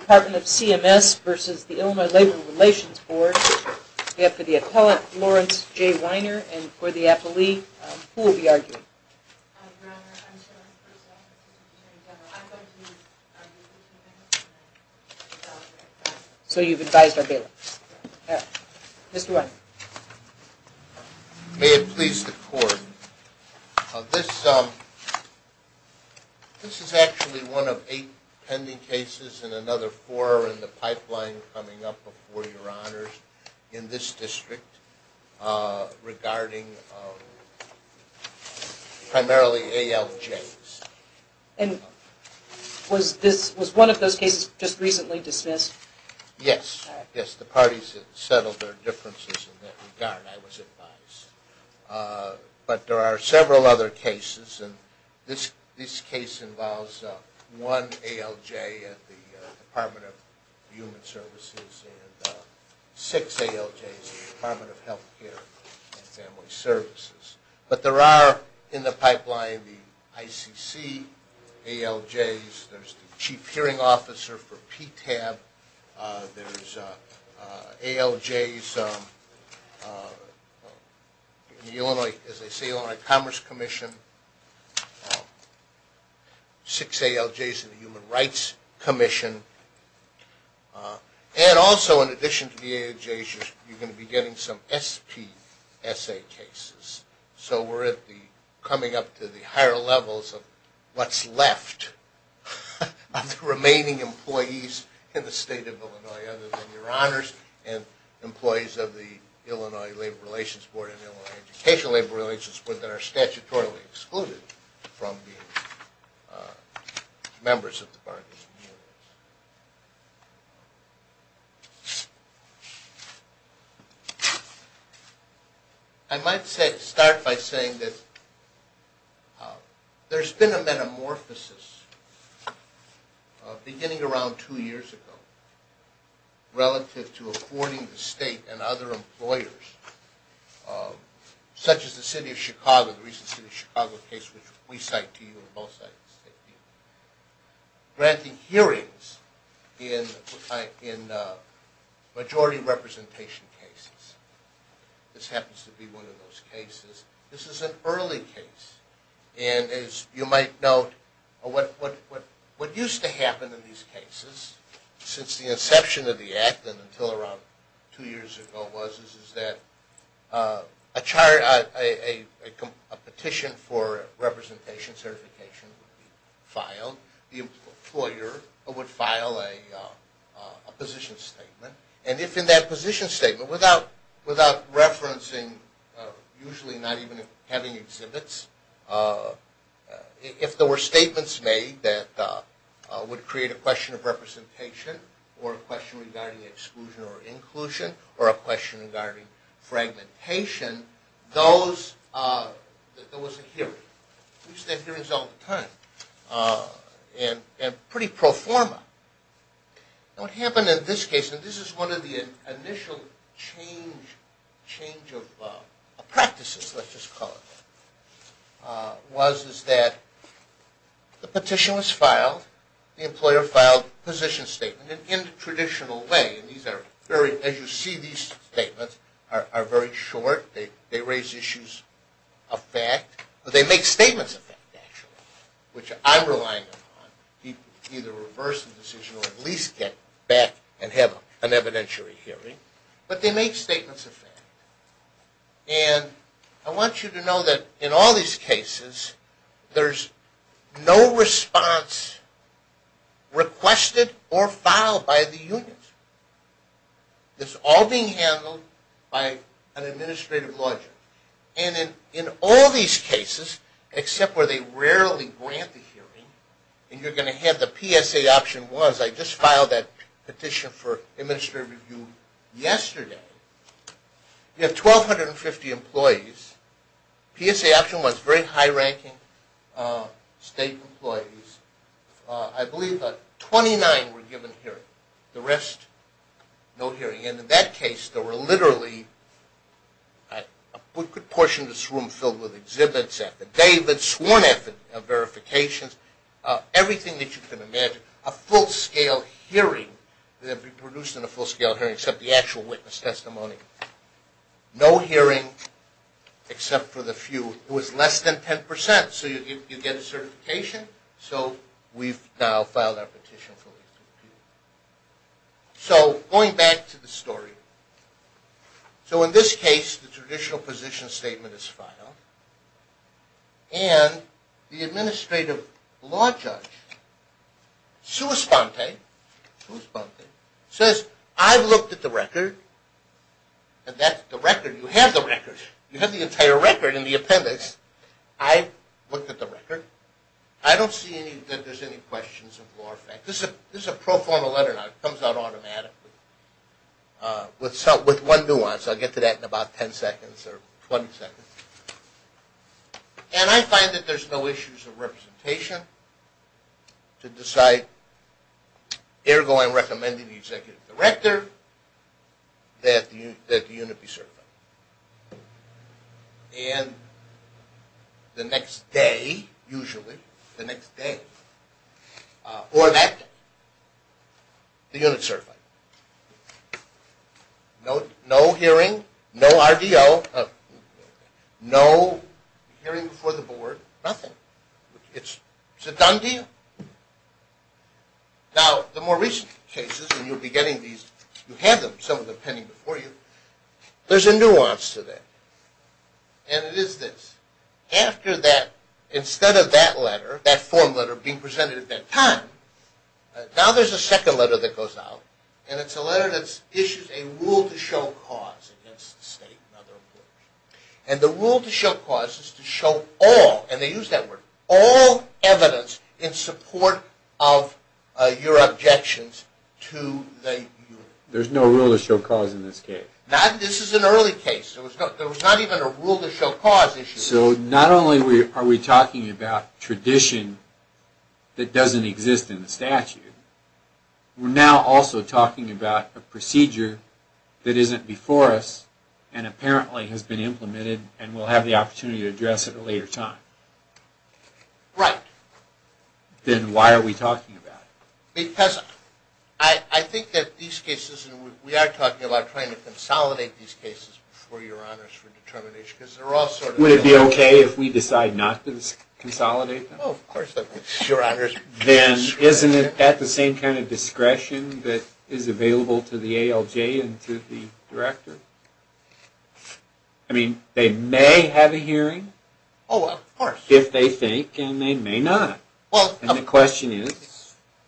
We have for the appellant, Lawrence J. Weiner, and for the appellee, who will be arguing? So you've advised our bailiffs? Yes. Mr. Weiner. May it please the court, this is actually one of eight pending cases and another four are in the pipeline coming up before your honors in this district regarding primarily ALJs. And was one of those cases just recently dismissed? Yes. Yes, the parties have settled their differences in that regard, I was advised. But there are several other cases and this case involves one ALJ at the Department of Human Services and six ALJs at the Department of Health Care and Family Services. But there are in the pipeline the ICC ALJs, there's the Chief Hearing Officer for PTAB, there's ALJs in the Illinois Commerce Commission, six ALJs in the Human Rights Commission, and in addition to the ALJs you're going to be getting some SPSA cases. So we're coming up to the higher levels of what's left of the remaining employees in the state of Illinois other than your honors and employees of the Illinois Labor Relations Board and Illinois Educational Labor Relations Board that are statutorily excluded from being members of the bargaining units. I might start by saying that there's been a metamorphosis beginning around two years ago relative to affording the state and other employers such as the City of Chicago, the grantee hearings in majority representation cases. This happens to be one of those cases. This is an early case and as you might note what used to happen in these cases since the inception of the Act and until around two years ago was that a petition for representation certification would be filed. The employer would file a position statement and if in that position statement without referencing, usually not even having exhibits, if there were statements made that would create a question of representation or a question regarding exclusion or inclusion or a question regarding fragmentation, there was a hearing. We used to have hearings all the time and pretty pro forma. What happened in this case and this is one of the initial change of practices, let's just call it, was that the petition was filed, the employer filed a position statement and in the traditional way, as you see these make statements of fact, which I'm relying on, either reverse the decision or at least get back and have an evidentiary hearing, but they make statements of fact. And I want you to know that in all these cases, there's no response requested or filed by the unions. It's all being handled by an administrative logic. And in all these cases, except where they rarely grant the hearing, and you're going to have the PSA option was, I just filed that petition for administrative review yesterday, you have 1,250 employees, PSA option was very scarce. No hearing. And in that case, there were literally a portion of this room filled with exhibits at the day, sworn verifications, everything that you can imagine. A full-scale hearing that had been produced in a full-scale hearing except the actual witness testimony. No hearing except for the few. It was less than 10 percent. So you get a certification. So we've now filed our petition for review. So going back to the story. So in this case, the traditional position statement is filed. And the administrative law judge, sua sponte, says, I've looked at the record, and that's the record. You have the record. You have the entire record in the appendix. I've looked at the record. I don't see that there's any questions of law effect. This is a pro-formal letter now. It comes out automatically with one nuance. I'll get to that in about 10 seconds or 20 seconds. And I find that there's no issues of representation to decide, ergo, I'm recommending to the executive director that the unit be certified. And the next day, usually, the next day, or that day, the unit is certified. No hearing, no RDO, no hearing before the board, nothing. It's a done deal. Now, the more recent cases, and you'll be getting these, you have them, some of them pending before you, there's a nuance to that. And it is this. After that, instead of that letter, that form letter being presented at that time, now there's a second letter that goes out, and it's a letter that issues a And the rule to show cause is to show all, and they use that word, all evidence in support of your objections to the unit. There's no rule to show cause in this case. This is an early case. There was not even a rule to show cause issue. So not only are we talking about tradition that doesn't exist in the statute, we're now also talking about a procedure that isn't before us, and apparently has been implemented, and we'll have the opportunity to address it at a later time. Right. Then why are we talking about it? Because I think that these cases, and we are talking about trying to consolidate these cases before your honors for determination, because they're all sort of Would it be okay if we decide not to consolidate them? Oh, of course, your honors. Then isn't it at the same kind of discretion that is available to the ALJ and to the director? I mean, they may have a hearing. Oh, of course. If they think, and they may not. And the question is,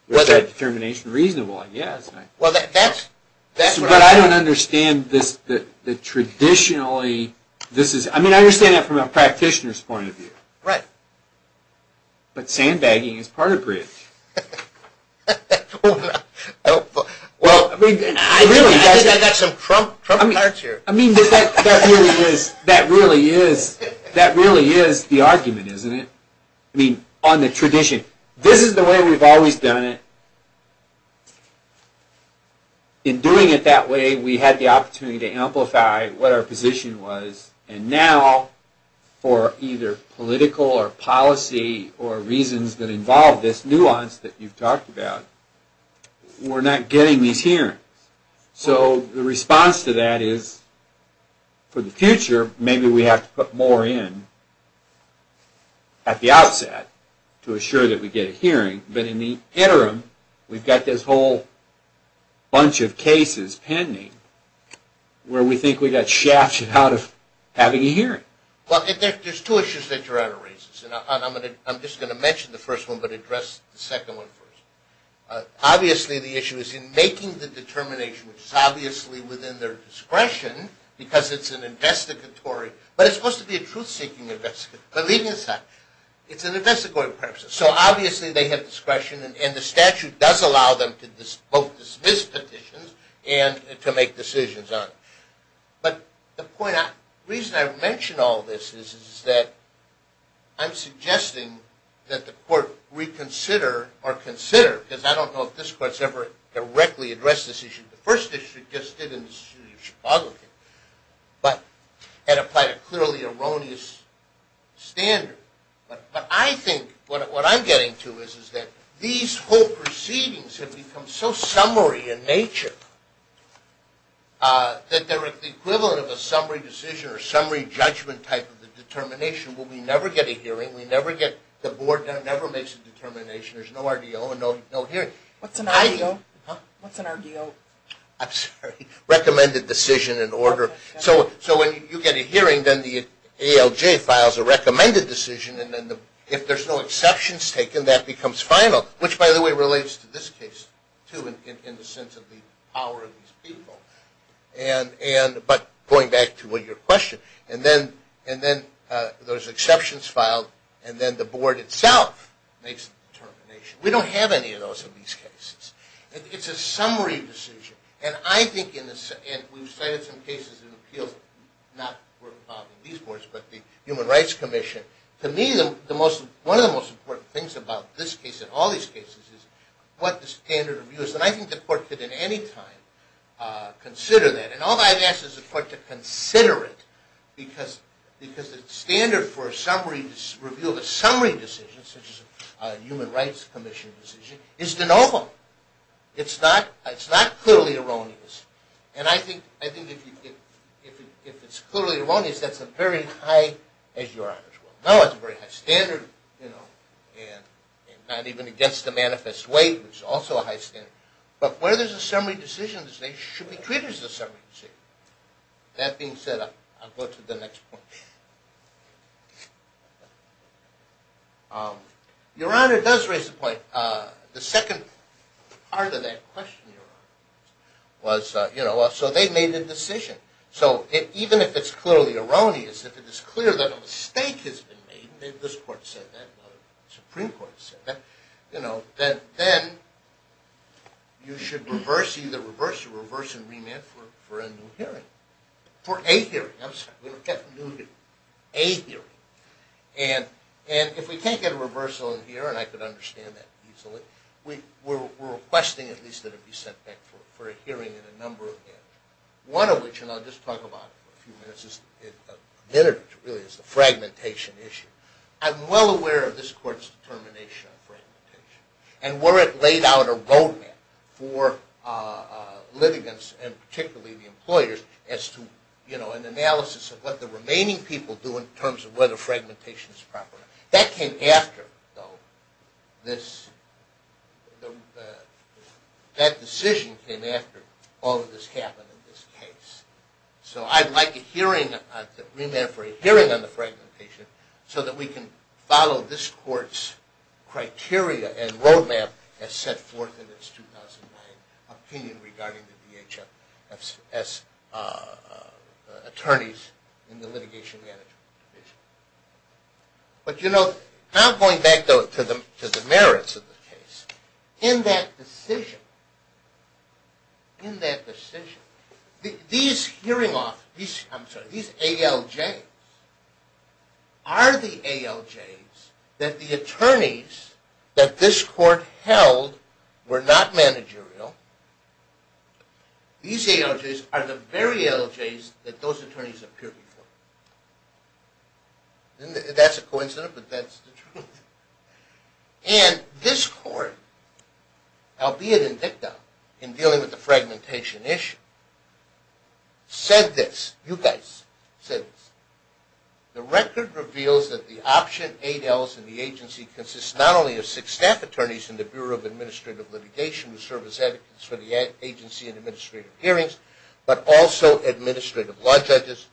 is that determination reasonable? Yes. Well, that's But I don't understand this, that traditionally, this is, I mean I understand that from a practitioner's point of view. Right. But sandbagging is part of bridge. Well, I think I got some Trump cards here. I mean, that really is the argument, isn't it? I mean, on the tradition. This is the way we've always done it. In doing it that way, we had the opportunity to amplify what our position was, and now for either political or policy or reasons that involve this nuance that you've talked about, we're not getting these hearings. So the response to that is, for the future, maybe we have to put more in at the outset to assure that we get a hearing. But in the interim, we've got this whole bunch of cases pending where we think we got shafted out of having a hearing. Well, there's two issues that Gerardo raises, and I'm just going to mention the first one, but address the second one first. Obviously, the issue is in making the determination, which is obviously within their discretion because it's an investigatory, but it's supposed to be a truth-seeking investigation. Believe me, it's not. It's an investigatory process. So obviously, they have discretion, and the statute does allow them to both dismiss petitions and to make decisions on it. But the point, the reason I mention all this is that I'm suggesting that the court reconsider or consider, because I don't know if this court's ever directly addressed this issue. The first issue it just did in the State of Chicago, but it applied a clearly erroneous standard. But I think what I'm getting to is that these whole proceedings have become so summary in nature that they're the equivalent of a summary decision or summary judgment type of a determination where we never get a hearing, the board never makes a determination, there's no RDO and no hearing. What's an RDO? I'm sorry. Recommended Decision and Order. So when you get a hearing, then the ALJ files a recommended decision, and if there's no exceptions taken, then that becomes final, which, by the way, relates to this case, too, in the sense of the power of these people. But going back to your question, and then those exceptions filed, and then the board itself makes a determination. We don't have any of those in these cases. It's a summary decision. And I think, and we've cited some cases in appeals that were not filed in these boards, but the Human Rights Commission. To me, one of the most important things about this case and all these cases is what the standard of view is. And I think the court could at any time consider that. And all I've asked is the court to consider it because the standard for a summary review of a summary decision, such as a Human Rights Commission decision, is de novo. It's not clearly erroneous. And I think if it's clearly erroneous, that's as very high as Your Honor's will. No, it's a very high standard, you know, and not even against the manifest way. It's also a high standard. But where there's a summary decision, there should be treated as a summary decision. That being said, I'll go to the next point. Your Honor does raise a point. The second part of that question, Your Honor, was, you know, so they made a decision. So even if it's clearly erroneous, if it is clear that a mistake has been made, and this court said that, the Supreme Court said that, you know, then you should reverse, either reverse or reverse and remand for a new hearing. For a hearing, I'm sorry, we don't get a new hearing. A hearing. And if we can't get a reversal in here, and I could understand that easily, we're requesting at least that it be sent back for a hearing in a number of areas. One of which, and I'll just talk about it for a few minutes, is fragmentation issue. I'm well aware of this court's determination on fragmentation. And where it laid out a roadmap for litigants, and particularly the employers, as to, you know, an analysis of what the remaining people do in terms of whether fragmentation is proper. That came after, though, this, that decision came after all of this happened in this case. So I'd like a hearing, a remand for a hearing on the fragmentation, so that we can follow this court's criteria and roadmap as set forth in its 2009 opinion regarding the DHS attorneys in the litigation management division. But, you know, now going back to the merits of the case, in that decision, in that decision, these ALJs are the ALJs that the attorneys that this court held were not managerial. These ALJs are the very ALJs that those attorneys appeared before. That's a coincidence, but that's the truth. And this court, albeit indicted in dealing with the fragmentation issue, said this. You guys said this. The record reveals that the option 8Ls in the agency consist not only of six staff attorneys in the Bureau of Administrative Litigation, who serve as advocates for the agency in administrative hearings, but also administrative law judges,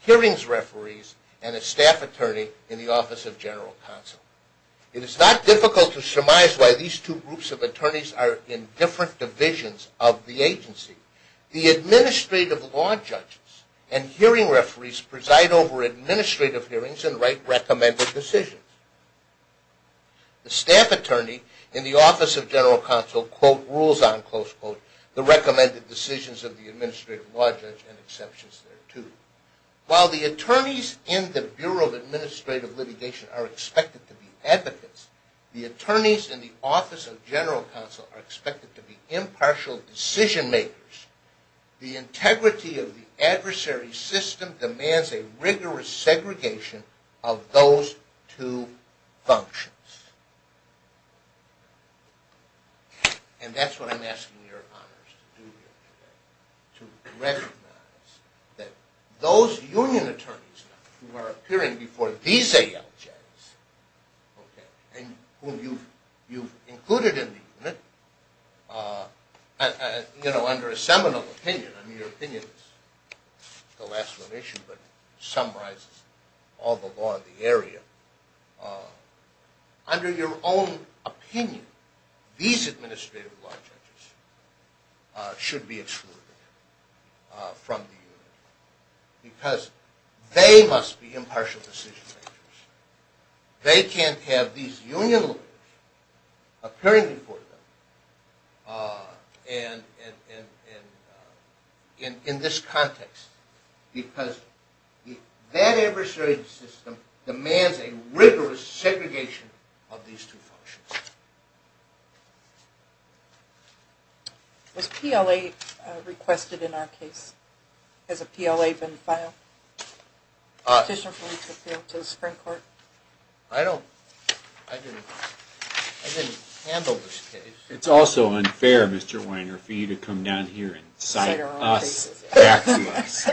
hearings referees, and a staff attorney in the Office of General Counsel. It is not difficult to surmise why these two groups of attorneys are in different divisions of the agency. The administrative law judges and hearing referees preside over administrative hearings and write recommended decisions. The staff attorney in the Office of General Counsel, quote, rules on, close quote, the recommended decisions of the administrative law judge and exceptions thereto. While the attorneys in the Bureau of Administrative Litigation are expected to be advocates, the attorneys in the Office of General Counsel are expected to be impartial decision makers. The integrity of the adversary system demands a rigorous segregation of those two functions. And that's what I'm asking your honors to do here today. To recognize that those union attorneys who are appearing before these ALJs, and whom you've included in the unit, you know, under a seminal opinion, and your opinion is the last one issued, but summarizes all the law in the area. Under your own opinion, these administrative law judges should be excluded from the unit, because they must be impartial decision makers. They can't have these union lawyers appearing before them in this context, because that adversary system demands a rigorous segregation of these two functions. Was PLA requested in our case? Has a PLA been filed? I didn't handle this case. It's also unfair, Mr. Weiner, for you to come down here and cite us back to us.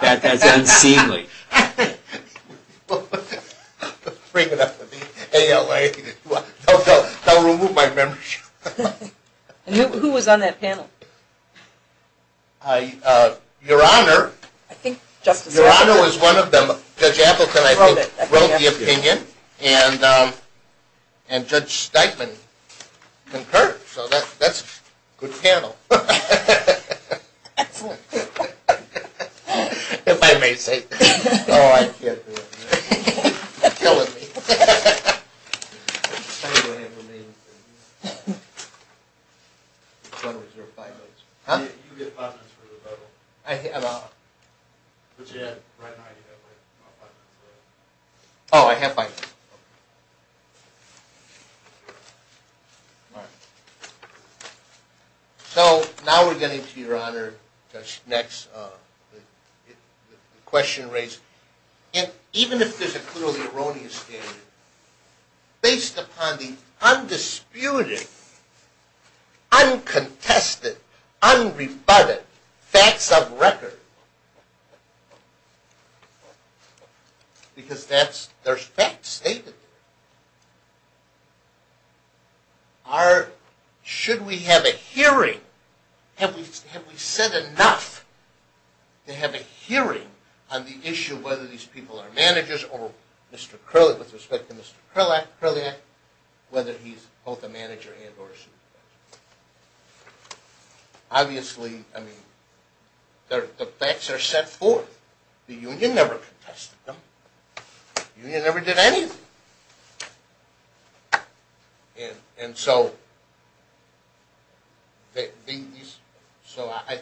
That's unseemly. Bring it up to the ALJ. Don't remove my membership. Who was on that panel? Your Honor. Your Honor was one of them. Judge Appleton, I think, wrote the opinion, and Judge Steitman concurred. So that's a good panel. That's a good panel. If I may say so. Oh, I can't do it. You're killing me. I need to have the name. You get five minutes for the vote. I have five minutes. Oh, I have five minutes. All right. So now we're getting to, Your Honor, the next question raised. Even if there's a clearly erroneous standard, based upon the undisputed, uncontested, unrebutted facts of record, because that's, they're fact stated, are, should we have a hearing? Have we said enough to have a hearing on the issue of whether these people are managers, or Mr. Kirliak, with respect to Mr. Kirliak, whether he's both a manager and or a supervisor? Obviously, I mean, the facts are set forth. The union never contested them. The union never did anything. And so I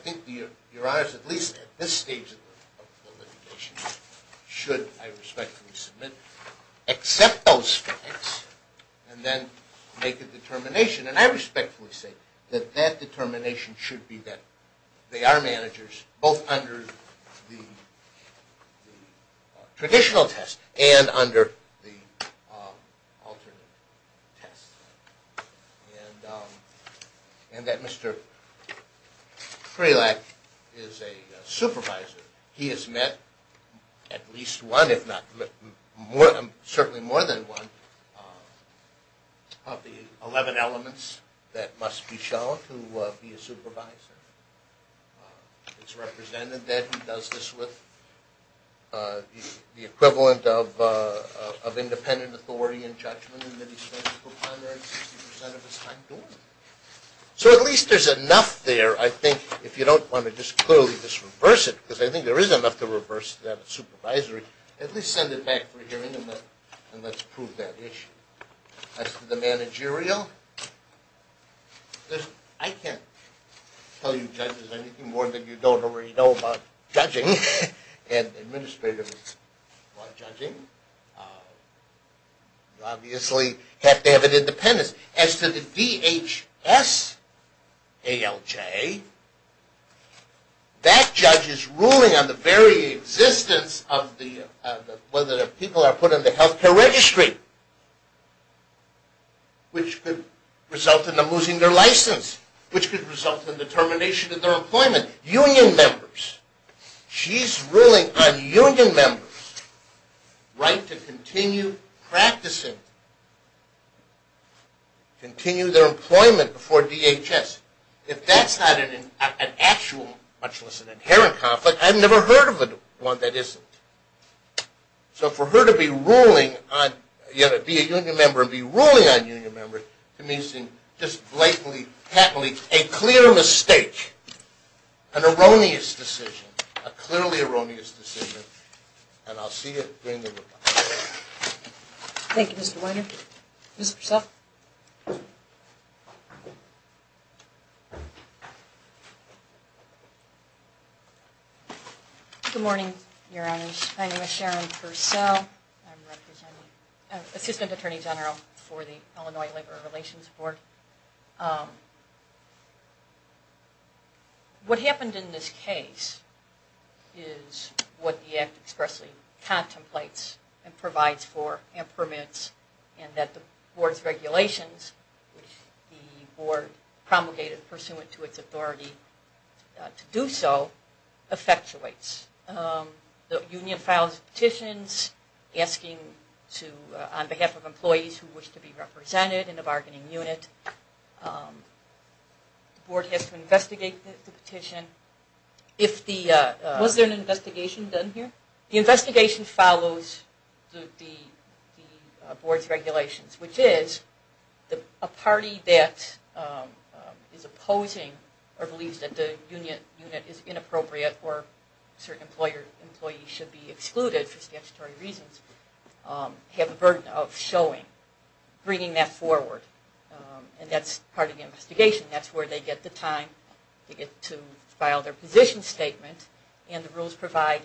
think, Your Honor, at least at this stage of the litigation, should I respectfully submit, accept those facts, and then make a determination. And I respectfully say that that determination should be that they are managers, both under the traditional test and under the alternate test. And that Mr. Kirliak is a supervisor. He has met at least one, if not more, certainly more than one, of the 11 elements that must be shown to be a supervisor. It's represented that he does this with the equivalent of independent authority and judgment and that he spends the primary 60 percent of his time doing it. So at least there's enough there, I think, if you don't want to just clearly just reverse it, because I think there is enough to reverse that of supervisory. At least send it back for hearing and let's prove that issue. As to the managerial, I can't tell you judges anything more than you don't already know about judging, and administrators know about judging. You obviously have to have an independence. As to the DHS ALJ, that judge is ruling on the very existence of the, whether the people are put on the health care registry, which could result in them losing their license, which could result in the termination of their employment. As to the union members, she's ruling on union members' right to continue practicing, continue their employment before DHS. If that's not an actual, much less an inherent conflict, I've never heard of one that isn't. So for her to be a union member and be ruling on union members, to me seems just blatantly, patently a clear mistake, an erroneous decision, a clearly erroneous decision, and I'll see it during the rebuttal. Thank you, Mr. Weiner. Ms. Purcell? Good morning, Your Honors. My name is Sharon Purcell. I'm the Assistant Attorney General for the Illinois Labor Relations Board. What happened in this case is what the Act expressly contemplates and provides for and permits, and that the Board's regulations, which the Board promulgated pursuant to its authority to do so, effectuates. The union files petitions asking on behalf of employees who wish to be represented in the bargaining unit. The Board has to investigate the petition. Was there an investigation done here? The investigation follows the Board's regulations, which is a party that is opposing or believes that the union unit is inappropriate or certain employees should be excluded for statutory reasons, have a burden of showing, bringing that forward. And that's part of the investigation. That's where they get the time to get to file their position statement. And the rules provide,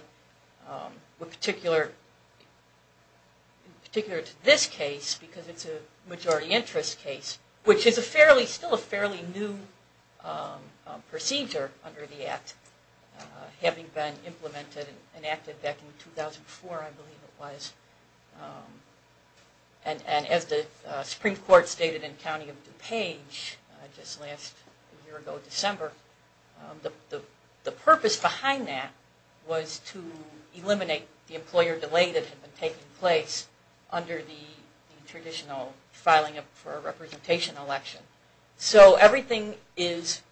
in particular to this case, because it's a majority interest case, which is still a fairly new procedure under the Act, having been implemented and enacted back in 2004, I believe it was. And as the Supreme Court stated in County of DuPage just last year ago, December, the purpose behind that was to eliminate the employer delay that had been taking place under the traditional filing for a representation election. So everything is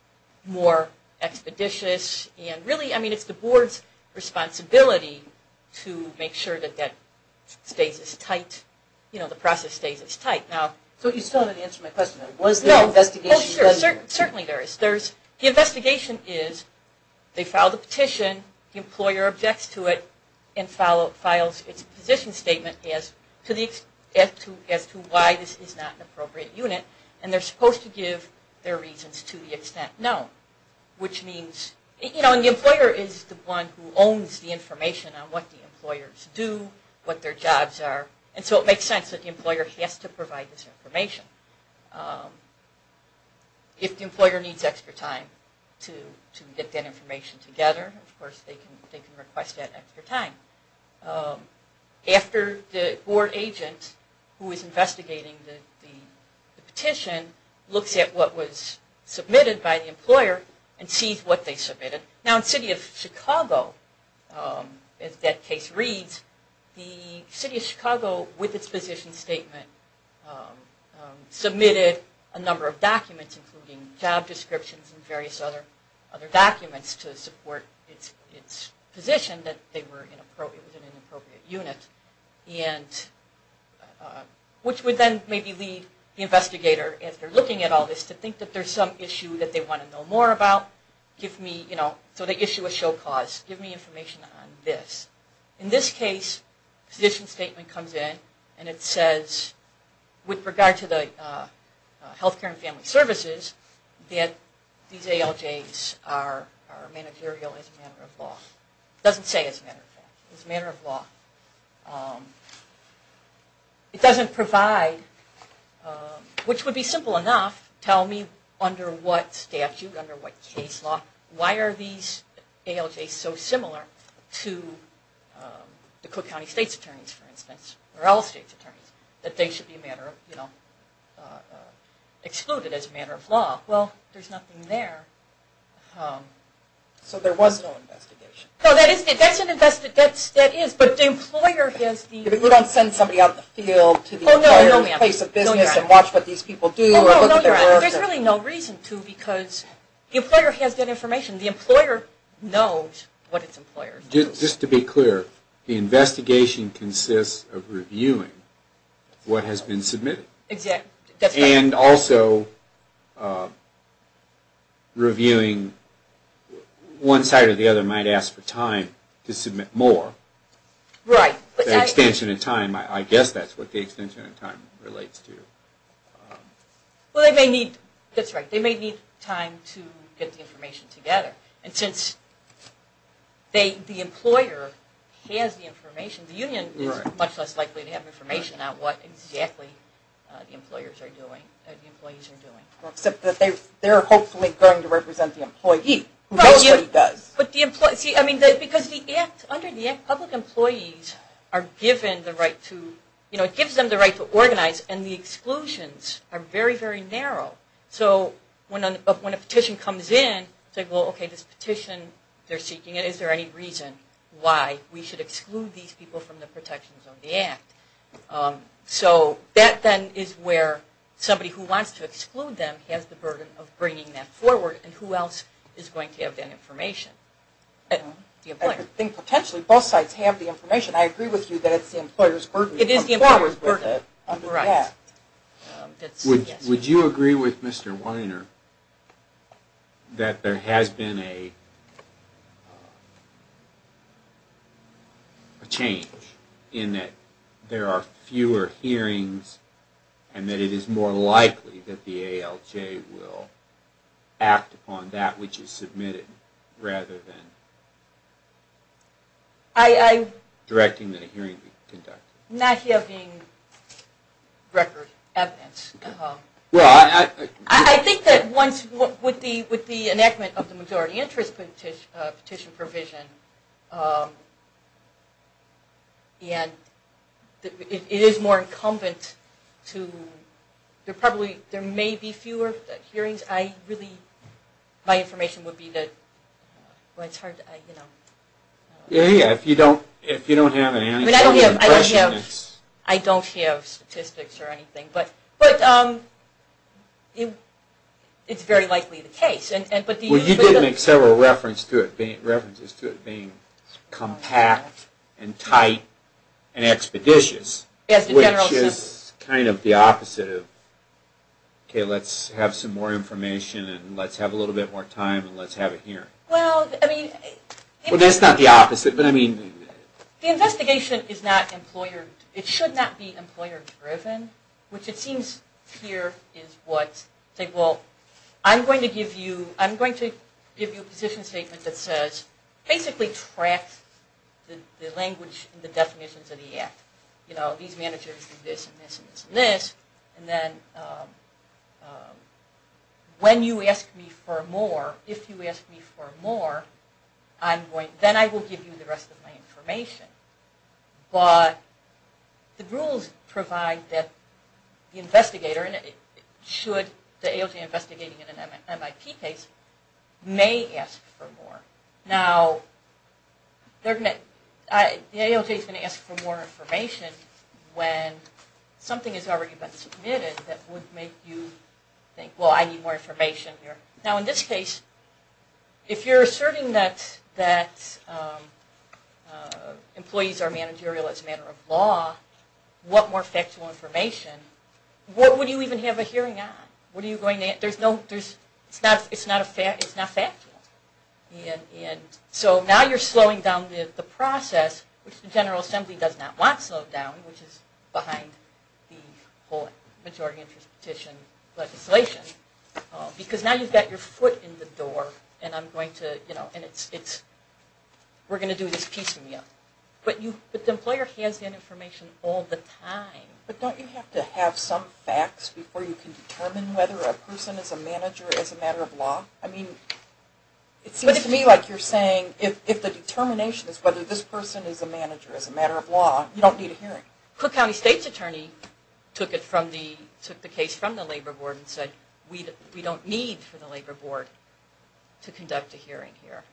more expeditious. And really, I mean, it's the Board's responsibility to make sure that that stays as tight, you know, the process stays as tight. So you still haven't answered my question. Was there an investigation done here? Certainly there is. The investigation is, they file the petition, the employer objects to it, and files its position statement as to why this is not an appropriate unit. And they're supposed to give their reasons to the extent known, which means, you know, and the employer is the one who owns the information on what the employers do, what their jobs are. And so it makes sense that the employer has to provide this information. If the employer needs extra time to get that information together, of course they can request that extra time. After the Board agent who is investigating the petition looks at what was submitted by the employer and sees what they submitted. Now in the City of Chicago, as that case reads, the City of Chicago, with its position statement, submitted a number of documents, including job descriptions and various other documents to support its position that it was an inappropriate unit. And which would then maybe lead the investigator, as they're looking at all this, to think that there's some issue that they want to know more about. Give me, you know, so they issue a show cause. Give me information on this. In this case, the petition statement comes in and it says, with regard to the health care and family services, that these ALJs are managerial as a matter of law. It doesn't say as a matter of law. It doesn't provide, which would be simple enough, tell me under what statute, under what case law, why are these ALJs so similar to the Cook County State's attorneys, for instance, or all state's attorneys, that they should be a matter of, you know, excluded as a matter of law. Well, there's nothing there. So there was no investigation. That is, but the employer has the... You don't send somebody out in the field to the employer's place of business and watch what these people do or look at their work. There's really no reason to because the employer has that information. The employer knows what its employers do. Just to be clear, the investigation consists of reviewing what has been submitted. Exactly. And also reviewing, one side or the other might ask for time to submit more. Right. The extension in time, I guess that's what the extension in time relates to. Well, they may need, that's right, they may need time to get the information together. And since the employer has the information, the union is much less likely to have information on what exactly the employers are doing, the employees are doing. Except that they're hopefully going to represent the employee, who mostly does. See, I mean, because under the Act, public employees are given the right to, you know, it gives them the right to organize and the exclusions are very, very narrow. So when a petition comes in, it's like, well, okay, this petition, they're seeking it, is there any reason why we should exclude these people from the protections of the Act? So that then is where somebody who wants to exclude them has the burden of bringing that forward and who else is going to have that information? I think potentially both sides have the information. I agree with you that it's the employer's burden. It is the employer's burden. Would you agree with Mr. Weiner that there has been a change in that there are fewer hearings and that it is more likely that the ALJ will act upon that which is submitted rather than directing that a hearing be conducted? Not having record evidence. I think that once, with the enactment of the majority interest petition provision, it is more incumbent to, there may be fewer hearings. I really, my information would be that, well, it's hard to, you know. Yeah, if you don't have anything. I don't have statistics or anything, but it's very likely the case. Well, you did make several references to it being compact and tight and expeditious, which is kind of the opposite of, okay, let's have some more information and let's have a little bit more time and let's have a hearing. Well, I mean. Well, that's not the opposite, but I mean. The investigation is not employer, it should not be employer-driven, which it seems here is what, say, well, I'm going to give you, I'm going to give you a position statement that says, basically tracks the language and the definitions of the act. You know, these managers do this and this and this and this, and then when you ask me for more, if you ask me for more, then I will give you the rest of my information. But the rules provide that the investigator, should the AOJ investigate in an MIP case, may ask for more. Now, the AOJ is going to ask for more information when something has already been submitted that would make you think, well, I need more information here. Now, in this case, if you're asserting that employees are managerial as a matter of law, what more factual information? What would you even have a hearing on? There's no, it's not factual. So now you're slowing down the process, which the General Assembly does not want slowed down, which is behind the whole majority interest petition legislation, because now you've got your foot in the door, and I'm going to, you know, and it's, we're going to do this piecemeal. But the employer has that information all the time. But don't you have to have some facts before you can determine whether a person is a manager as a matter of law? I mean, it seems to me like you're saying, if the determination is whether this person is a manager as a matter of law, you don't need a hearing. Cook County State's attorney took it from the, took the case from the Labor Board and said, we don't need for the Labor Board to conduct a hearing here,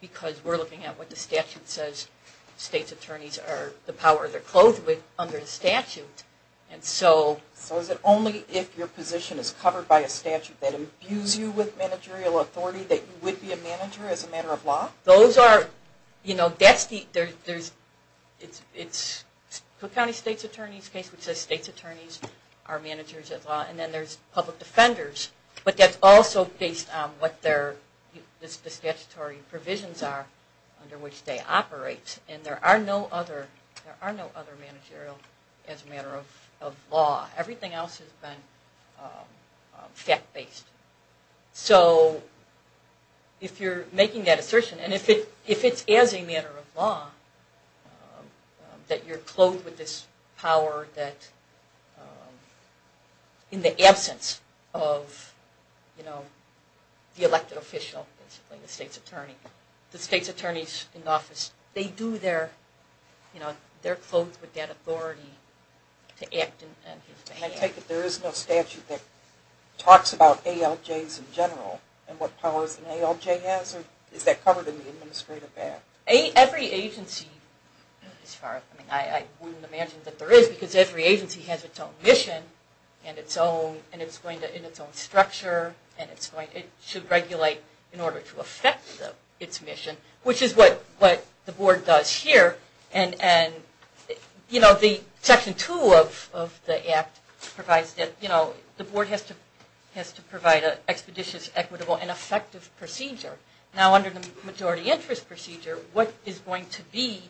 because we're looking at what the statute says. State's attorneys are the power they're clothed with under the statute. And so... So is it only if your position is covered by a statute that imbues you with managerial authority that you would be a manager as a matter of law? Those are, you know, that's the, there's, it's, it's Cook County State's attorney's case, which says state's attorneys are managers of law, and then there's public defenders. But that's also based on what their, the statutory provisions are under which they operate. And there are no other, there are no other managerial as a matter of law. Everything else has been fact-based. So if you're making that assertion, and if it, if it's as a matter of law that you're clothed with this power that, in the absence of, you know, the elected official, basically the state's attorney, the state's attorneys in office, they do their, you know, they're clothed with that authority to act in his behalf. I take it there is no statute that talks about ALJs in general, and what powers an ALJ has? Or is that covered in the Administrative Act? Every agency, as far as, I mean, I wouldn't imagine that there is because every agency has its own mission, and its own, and it's going to, in its own structure, and it's going, it should regulate in order to affect its mission, which is what, what the board does here. And, and, you know, the Section 2 of, of the Act provides that, you know, the board has to, has to provide an expeditious, equitable, and effective procedure. Now under the Majority Interest Procedure, what is going to be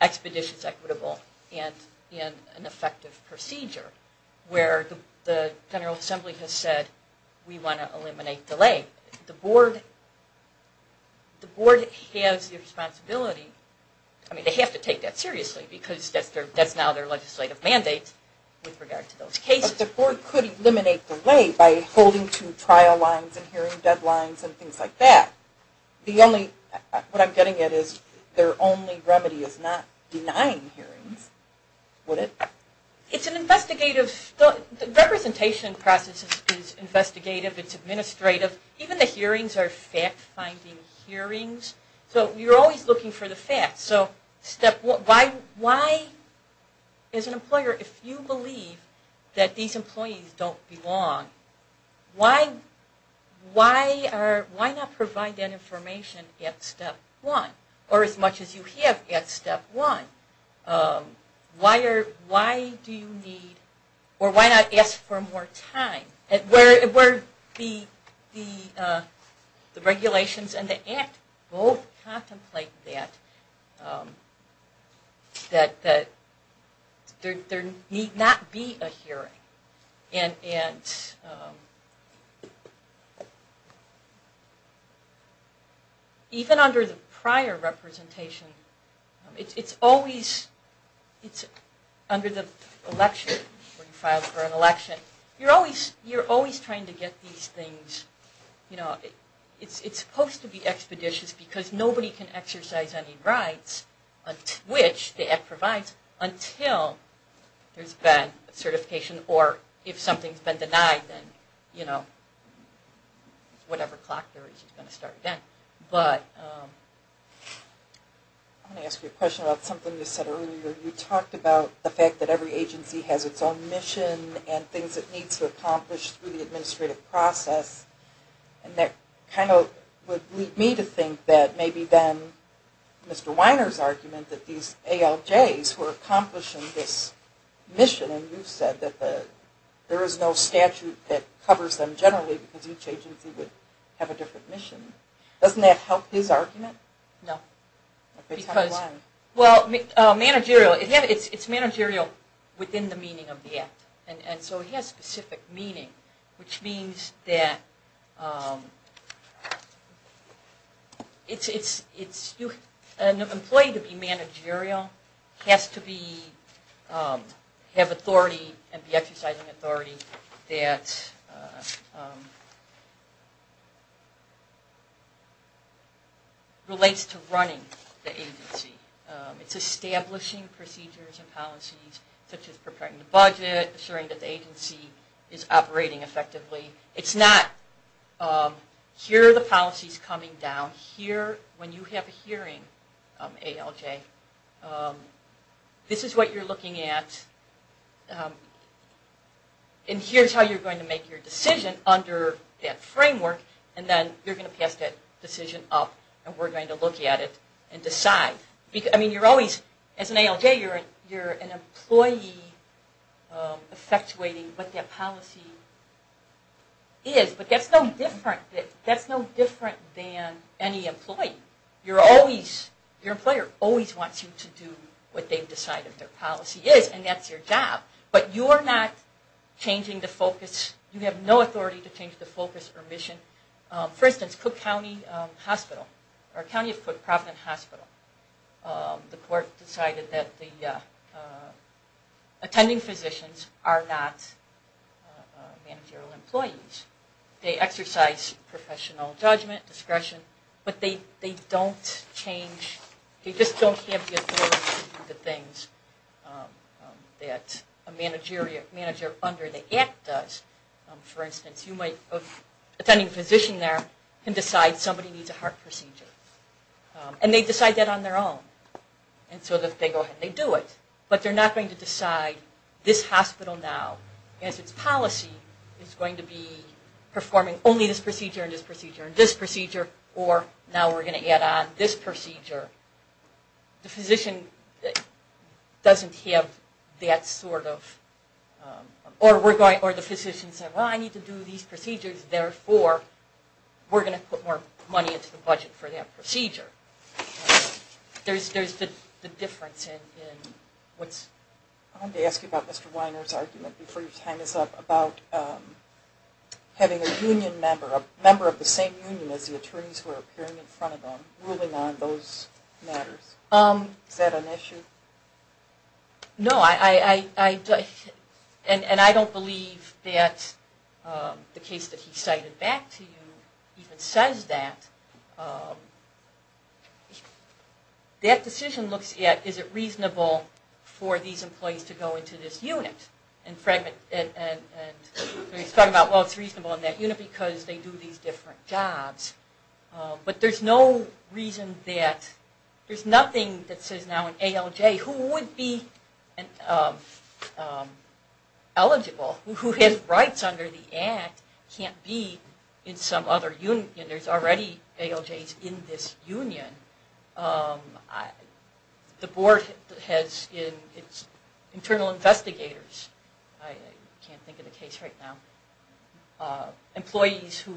expeditious, equitable, and, and an effective procedure? Where the General Assembly has said, we want to eliminate delay. The board, the board has the responsibility, I mean they have to take that seriously, because that's their, that's now their legislative mandate, with regard to those cases. But the board could eliminate delay by holding to trial lines, and hearing deadlines, and things like that. The only, what I'm getting at is, their only remedy is not denying hearings, would it? It's an investigative, the representation process is investigative, it's administrative. Even the hearings are fact-finding hearings. So you're always looking for the facts. So step one, why, why, as an employer, if you believe that these employees don't belong, why, why are, why not provide that information at step one? Or as much as you have at step one. Why are, why do you need, or why not ask for more time? Where the regulations and the act both contemplate that, that there need not be a hearing. And even under the prior representation, it's always, it's under the election, where you file for an election. You're always, you're always trying to get these things, you know, it's supposed to be expeditious, because nobody can exercise any rights, which the act provides, until there's been certification, or if something's been denied, then, you know, whatever clock there is, it's going to start again. But... I want to ask you a question about something you said earlier. You talked about the fact that every agency has its own mission, and things it needs to accomplish through the administrative process. And that kind of would lead me to think that maybe then, Mr. Weiner's argument that these ALJs were accomplishing this mission, and you said that there is no statute that covers them generally, because each agency would have a different mission. Doesn't that help his argument? No. Because, well, managerial, it's managerial within the meaning of the act. And so it has specific meaning, which means that, it's, an employee to be managerial has to be, have authority, and be exercising authority, that relates to running the agency. It's establishing procedures and policies, such as preparing the budget, assuring that the agency is operating effectively. It's not, here are the policies coming down. Here, when you have a hearing, ALJ, this is what you're looking at. And here's how you're going to make your decision under that framework, and then you're going to pass that decision up, and we're going to look at it and decide. I mean, you're always, as an ALJ, you're an employee effectuating what that policy is, but that's no different than any employee. Your employer always wants you to do what they've decided their policy is, and that's your job, but you're not changing the focus, you have no authority to change the focus or mission. For instance, Cook County Hospital, or County of Cook Providence Hospital, the court decided that the attending physicians are not managerial employees. They exercise professional judgment, discretion, but they don't change, they just don't have the authority to do the things that a manager under the Act does. For instance, you might have an attending physician there and decide somebody needs a heart procedure, and they decide that on their own, and so they go ahead and they do it, but they're not going to decide this hospital now, as its policy, is going to be performing only this procedure and this procedure and this procedure, or now we're going to add on this procedure. The physician doesn't have that sort of... Or the physician says, well, I need to do these procedures, therefore we're going to put more money into the budget for that procedure. There's the difference in what's... I wanted to ask you about Mr. Weiner's argument, before your time is up, about having a union member, a member of the same union as the attorneys who are appearing in front of them, ruling on those matters. Is that an issue? No, and I don't believe that the case that he cited back to you even says that. That decision looks at, is it reasonable for these employees to go into this unit and he's talking about, well, it's reasonable in that unit because they do these different jobs. But there's no reason that... There's nothing that says now an ALJ who would be eligible, who has rights under the Act, can't be in some other union. There's already ALJs in this union. The board has internal investigators. I can't think of the case right now. Employees who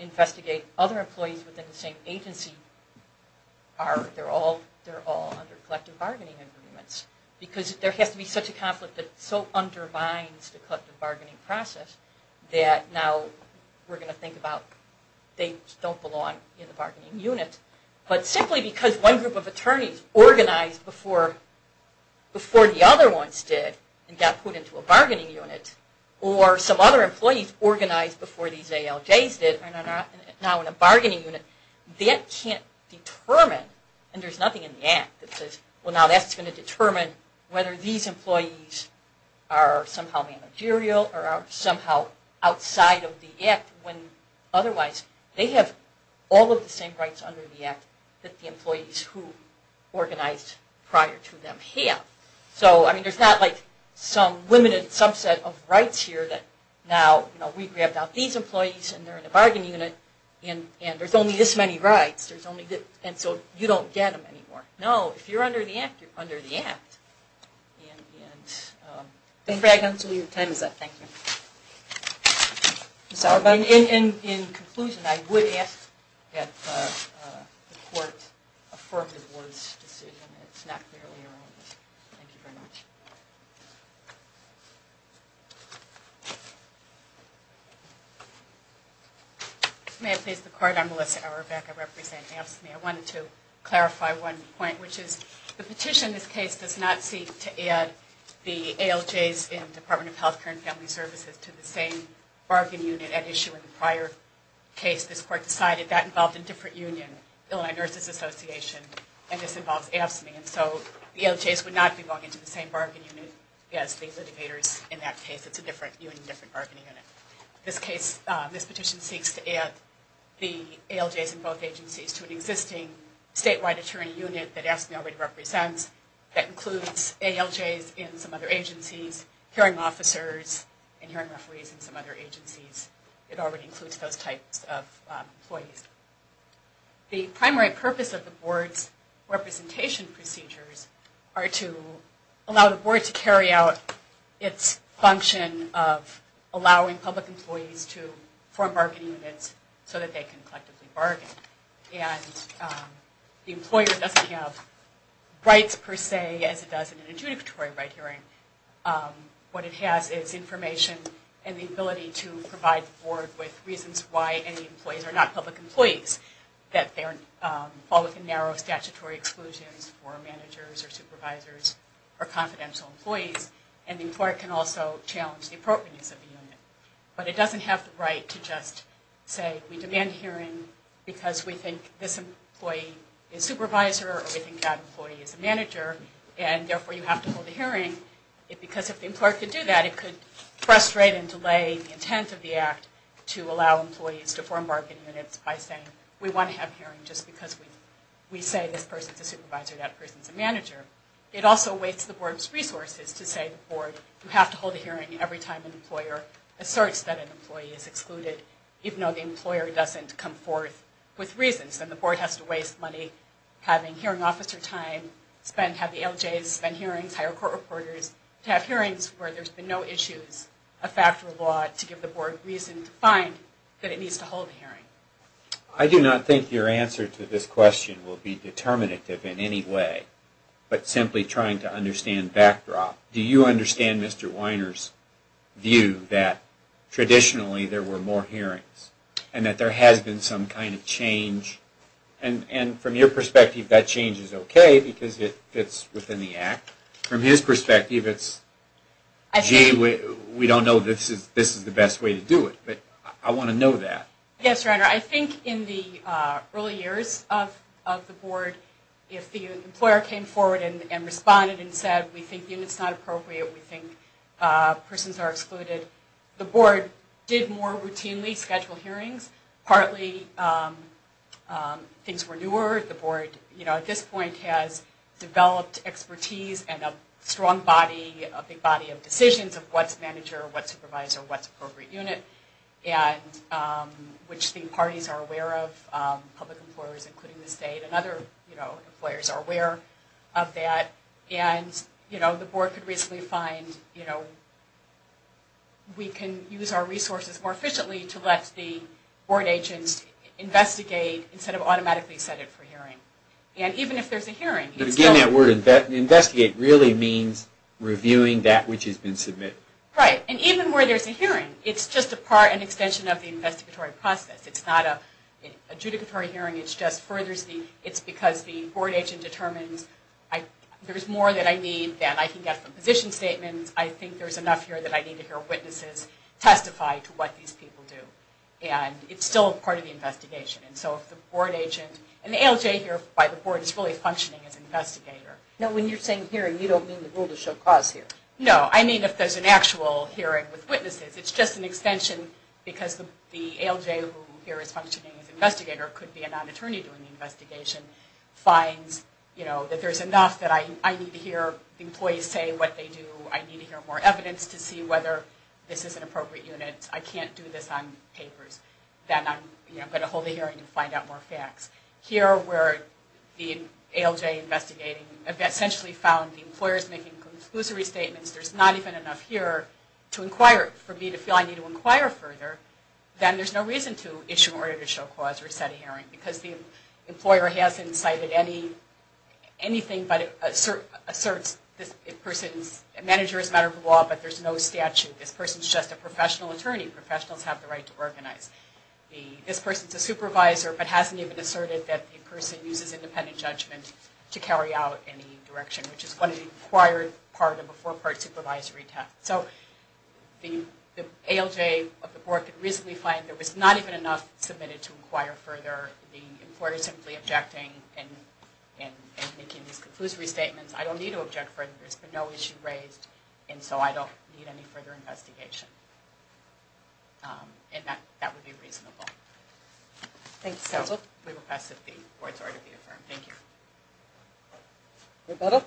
investigate other employees within the same agency, they're all under collective bargaining agreements. Because there has to be such a conflict that so undermines the collective bargaining process that now we're going to think about, they don't belong in the bargaining unit. But simply because one group of attorneys organized before the other ones did and got put into a bargaining unit, or some other employees organized before these ALJs did and are now in a bargaining unit, that can't determine, and there's nothing in the Act that says, well now that's going to determine whether these employees are somehow managerial or are somehow outside of the Act, when otherwise they have all of the same rights under the Act that the employees who organized prior to them have. So there's not some limited subset of rights here that now, we grabbed out these employees and they're in a bargaining unit and there's only this many rights. And so you don't get them anymore. No, if you're under the Act, you're under the Act. And in conclusion, I would ask that the Court affirm the Board's decision. It's not merely your own. Thank you very much. May I please have the card? I'm Melissa Auerbach, I represent AFSCME. I wanted to clarify one point, which is the petition in this case does not seek to add the ALJs in the Department of Health Care and Family Services to the same bargaining unit at issue in the prior case. This Court decided that involved a different union, Illinois Nurses Association, and this involves AFSCME. And so the ALJs would not be going into the same bargaining unit as the litigators in that case. It's a different union, different bargaining unit. This petition seeks to add the ALJs in both agencies to an existing statewide attorney unit that AFSCME already represents that includes ALJs in some other agencies, hearing officers and hearing referees in some other agencies. It already includes those types of employees. The primary purpose of the Board's representation procedures are to allow the Board to carry out its function of allowing public employees to form bargaining units so that they can collectively bargain. And the employer doesn't have rights, per se, as it does in an adjudicatory right hearing. What it has is information and the ability to provide the Board with reasons why any employees are not public employees, that they fall within narrow statutory exclusions for managers or supervisors or confidential employees, and the employer can also challenge the appropriateness of the unit. But it doesn't have the right to just say, we demand hearing because we think this employee is supervisor or we think that employee is a manager, and therefore you have to hold a hearing. Because if the employer could do that, it could frustrate and delay the intent of the Act to allow employees to form bargaining units by saying, we want to have hearing just because we say this person's a supervisor, that person's a manager. It also wastes the Board's resources to say to the Board, you have to hold a hearing every time an employer asserts that an employee is excluded, even though the employer doesn't come forth with reasons. And the Board has to waste money having hearing officer time, have the LJs spend hearings, hire court reporters, to have hearings where there's been no issues, a factor of law to give the Board reason to find that it needs to hold a hearing. I do not think your answer to this question will be determinative in any way, but simply trying to understand backdrop. Do you understand Mr. Weiner's view that traditionally there were more hearings and that there has been some kind of change? And from your perspective, that change is okay because it fits within the Act. From his perspective, it's, gee, we don't know this is the best way to do it. But I want to know that. Yes, Renter. I think in the early years of the Board, if the employer came forward and responded and said, we think the unit's not appropriate, we think persons are excluded, the Board did more routinely schedule hearings. Partly things were newer. The Board at this point has developed expertise and a strong body, a big body of decisions of what's manager, what's supervisor, what's appropriate unit, which the parties are aware of, public employers including the state, and other employers are aware of that. And, you know, the Board could reasonably find, you know, we can use our resources more efficiently to let the Board agent investigate instead of automatically set it for hearing. And even if there's a hearing, it's still... But again, that word investigate really means reviewing that which has been submitted. Right. And even where there's a hearing, it's just a part and extension of the investigatory process. It's not a adjudicatory hearing. It just furthers the... It's because the Board agent determines there's more that I need than I can get from position statements. I think there's enough here that I need to hear witnesses testify to what these people do. And it's still part of the investigation. And so if the Board agent... And the ALJ here by the Board is really functioning as investigator. No, when you're saying hearing, you don't mean the rule to show cause here. No, I mean if there's an actual hearing with witnesses. It's just an extension because the ALJ who here is functioning as investigator or could be a non-attorney doing the investigation, finds that there's enough that I need to hear employees say what they do. I need to hear more evidence to see whether this is an appropriate unit. I can't do this on papers. Then I'm going to hold a hearing and find out more facts. Here where the ALJ investigating essentially found the employers making conclusory statements, there's not even enough here to inquire. For me to feel I need to inquire further, then there's no reason to issue an order to show cause or set a hearing because the employer hasn't cited anything but asserts this person's manager is a matter of the law, but there's no statute. This person's just a professional attorney. Professionals have the right to organize. This person's a supervisor but hasn't even asserted that the person uses independent judgment to carry out any direction, which is what an acquired part of a four-part supervisory task. So the ALJ of the board could reasonably find there was not even enough submitted to inquire further. The employer's simply objecting and making these conclusory statements. I don't need to object further. There's been no issue raised, and so I don't need any further investigation. And that would be reasonable. Thanks, Cecil. We will pass the board's order to be affirmed. Thank you. Roberta?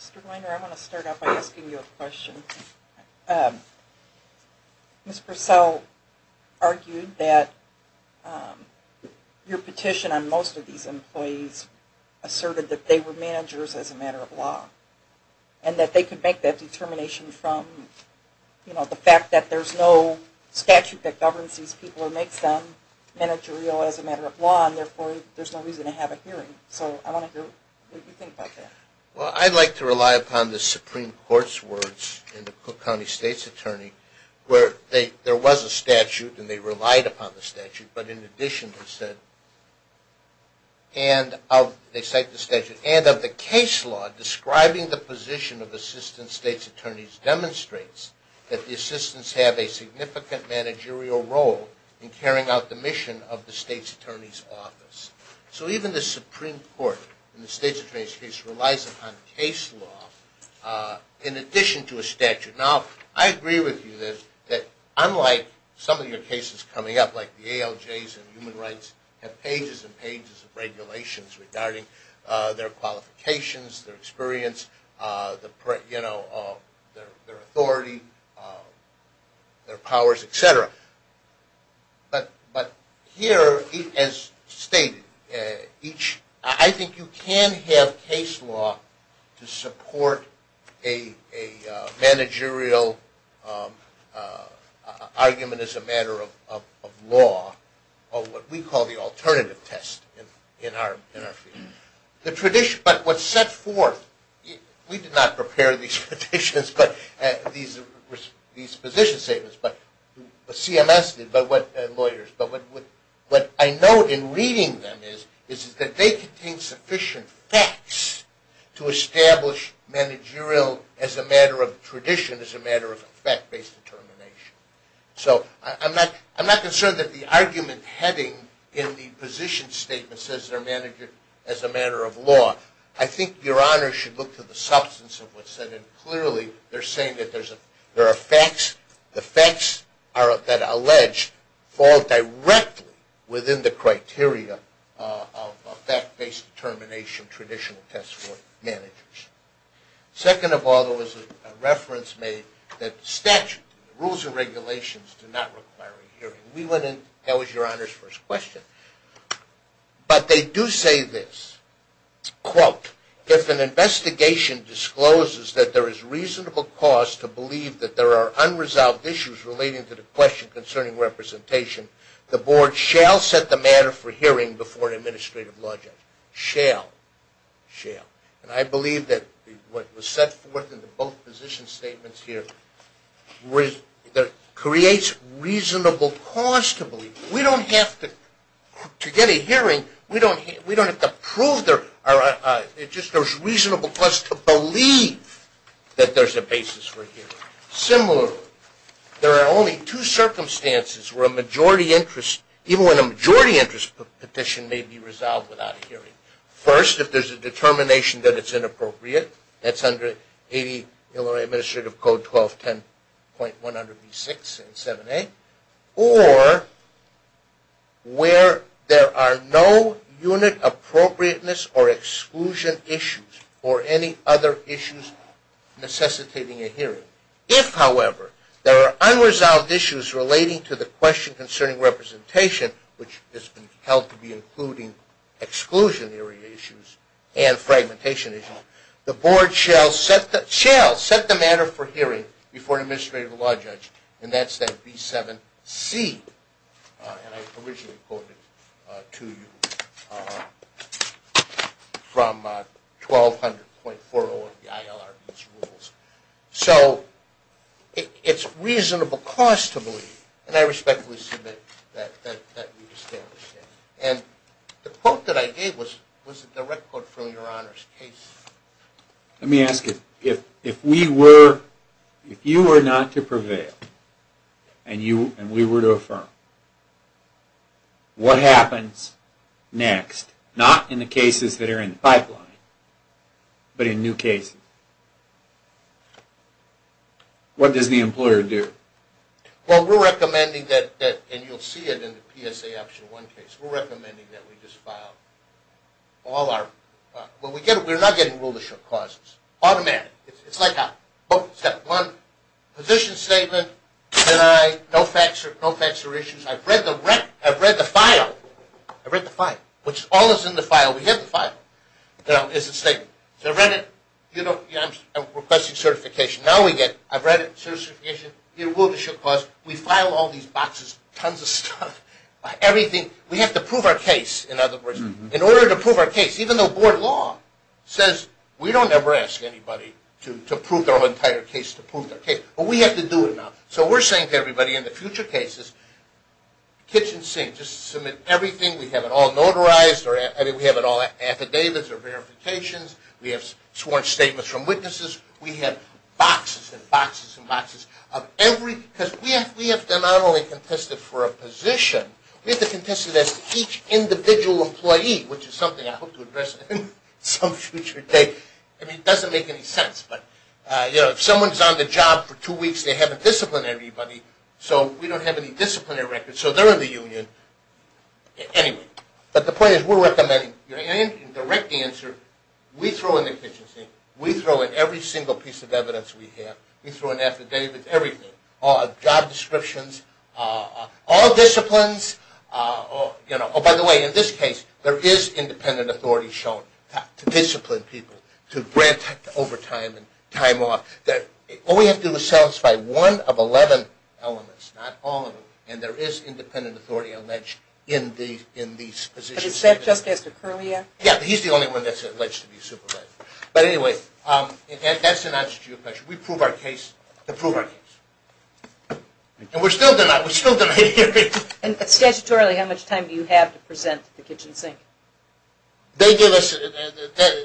Mr. Weiner, I want to start out by asking you a question. Ms. Purcell argued that your petition on most of these employees asserted that they were managers as a matter of law and that they could make that determination from the fact that there's no statute that governs these people or makes them managerial as a matter of law, and therefore there's no reason to have a hearing. So I want to hear what you think about that. Well, I'd like to rely upon the Supreme Court's words and the Cook County State's attorney where there was a statute and they relied upon the statute, but in addition they said, and they cite the statute, and of the case law describing the position of assistant state's attorneys demonstrates that the assistants have a significant managerial role in carrying out the mission of the state's attorney's office. So even the Supreme Court in the state's attorney's case relies upon case law in addition to a statute. Now, I agree with you that unlike some of your cases coming up, like the ALJs and human rights have pages and pages of regulations regarding their qualifications, their experience, their authority, their powers, et cetera. But here, as stated, I think you can have case law to support a managerial argument as a matter of law or what we call the alternative test in our field. But what's set forth, we did not prepare these positions statements, but CMS did and lawyers, but what I know in reading them is that they contain sufficient facts to establish managerial as a matter of tradition, as a matter of fact-based determination. So I'm not concerned that the argument heading in the position statement says they're managerial as a matter of law. I think Your Honor should look to the substance of what's said, and clearly they're saying that there are facts. The facts that are alleged fall directly within the criteria of fact-based determination, traditional test for managers. Second of all, there was a reference made that rules and regulations do not require a hearing. We went in, that was Your Honor's first question, but they do say this, quote, if an investigation discloses that there is reasonable cause to believe that there are unresolved issues relating to the question concerning representation, the board shall set the matter for hearing before an administrative law judge. Shall. Shall. And I believe that what was set forth in both position statements here creates reasonable cause to believe. We don't have to, to get a hearing, we don't have to prove there are, it's just there's reasonable cause to believe that there's a basis for hearing. Similarly, there are only two circumstances where a majority interest, even when a majority interest petition may be resolved without a hearing. First, if there's a determination that it's inappropriate, that's under 80 Illinois Administrative Code 1210.100B6 and 7A, or where there are no unit appropriateness or exclusion issues or any other issues necessitating a hearing. If, however, there are unresolved issues relating to the question concerning representation, which has been held to be including exclusionary issues and fragmentation issues, the board shall set the matter for hearing before an administrative law judge, and that's that B7C, and I originally quoted it to you from 1200.40 of the ILRB's rules. So, it's reasonable cause to believe, and I respectfully submit that we've established that. And the quote that I gave was a direct quote from your Honor's case. Let me ask you, if we were, if you were not to prevail, and we were to affirm, what happens next, not in the cases that are in the pipeline, but in new cases? What does the employer do? Well, we're recommending that, and you'll see it in the PSA Option 1 case, we're recommending that we just file all our... Well, we're not getting rulership clauses. Automatic. It's like a book. It's got one position statement, deny, no facts or issues. I've read the file. I've read the file, which all is in the file. We get the file. There's a statement. I've read it. I'm requesting certification. Now we get, I've read it, certification, rulership clause. We file all these boxes, tons of stuff, everything. We have to prove our case, in other words. In order to prove our case. Even though board law says we don't ever ask anybody to prove their entire case, to prove their case. But we have to do it now. So we're saying to everybody in the future cases, kitchen sink. Just submit everything. We have it all notarized. We have it all in affidavits or verifications. We have sworn statements from witnesses. We have boxes and boxes and boxes of every... Because we have to not only contest it for a position, we have to contest it as to each individual employee, which is something I hope to address in some future day. I mean, it doesn't make any sense. But, you know, if someone's on the job for two weeks, they haven't disciplined everybody. So we don't have any disciplinary records. So they're in the union. Anyway. But the point is we're recommending, in direct answer, we throw in the kitchen sink. We throw in every single piece of evidence we have. We throw in affidavits, everything. Job descriptions. All disciplines. Oh, by the way, in this case, there is independent authority shown to discipline people, to grant overtime and time off. All we have to do is satisfy one of 11 elements, not all of them. And there is independent authority alleged in these positions. But is that just Esther Curlea? Yeah, but he's the only one that's alleged to be supervising. But anyway, that's an answer to your question. We prove our case to prove our case. And we're still denying. We're still denying. And statutorily, how much time do you have to present the kitchen sink? They give us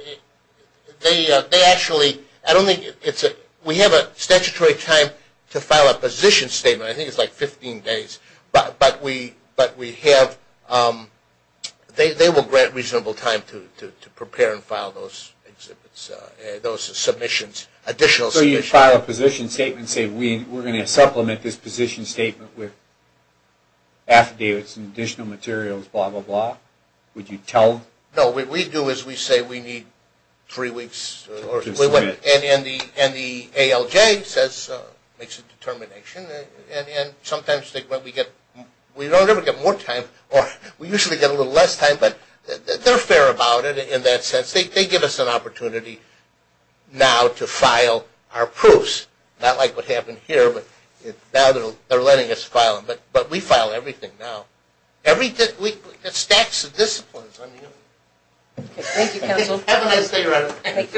– they actually – I don't think it's – we have a statutory time to file a position statement. I think it's like 15 days. But we have – they will grant reasonable time to prepare and file those exhibits, those submissions, additional submissions. So you file a position statement and say, we're going to supplement this position statement with affidavits and additional materials, blah, blah, blah. Would you tell – No, what we do is we say we need three weeks. And the ALJ says – makes a determination. And sometimes they – we don't ever get more time. We usually get a little less time. But they're fair about it in that sense. They give us an opportunity now to file our proofs, not like what happened here. But now they're letting us file them. But we file everything now. Everything – it stacks the disciplines on you. Okay. Thank you, counsel. Have a nice day, Ronald. Thank you. Good-bye.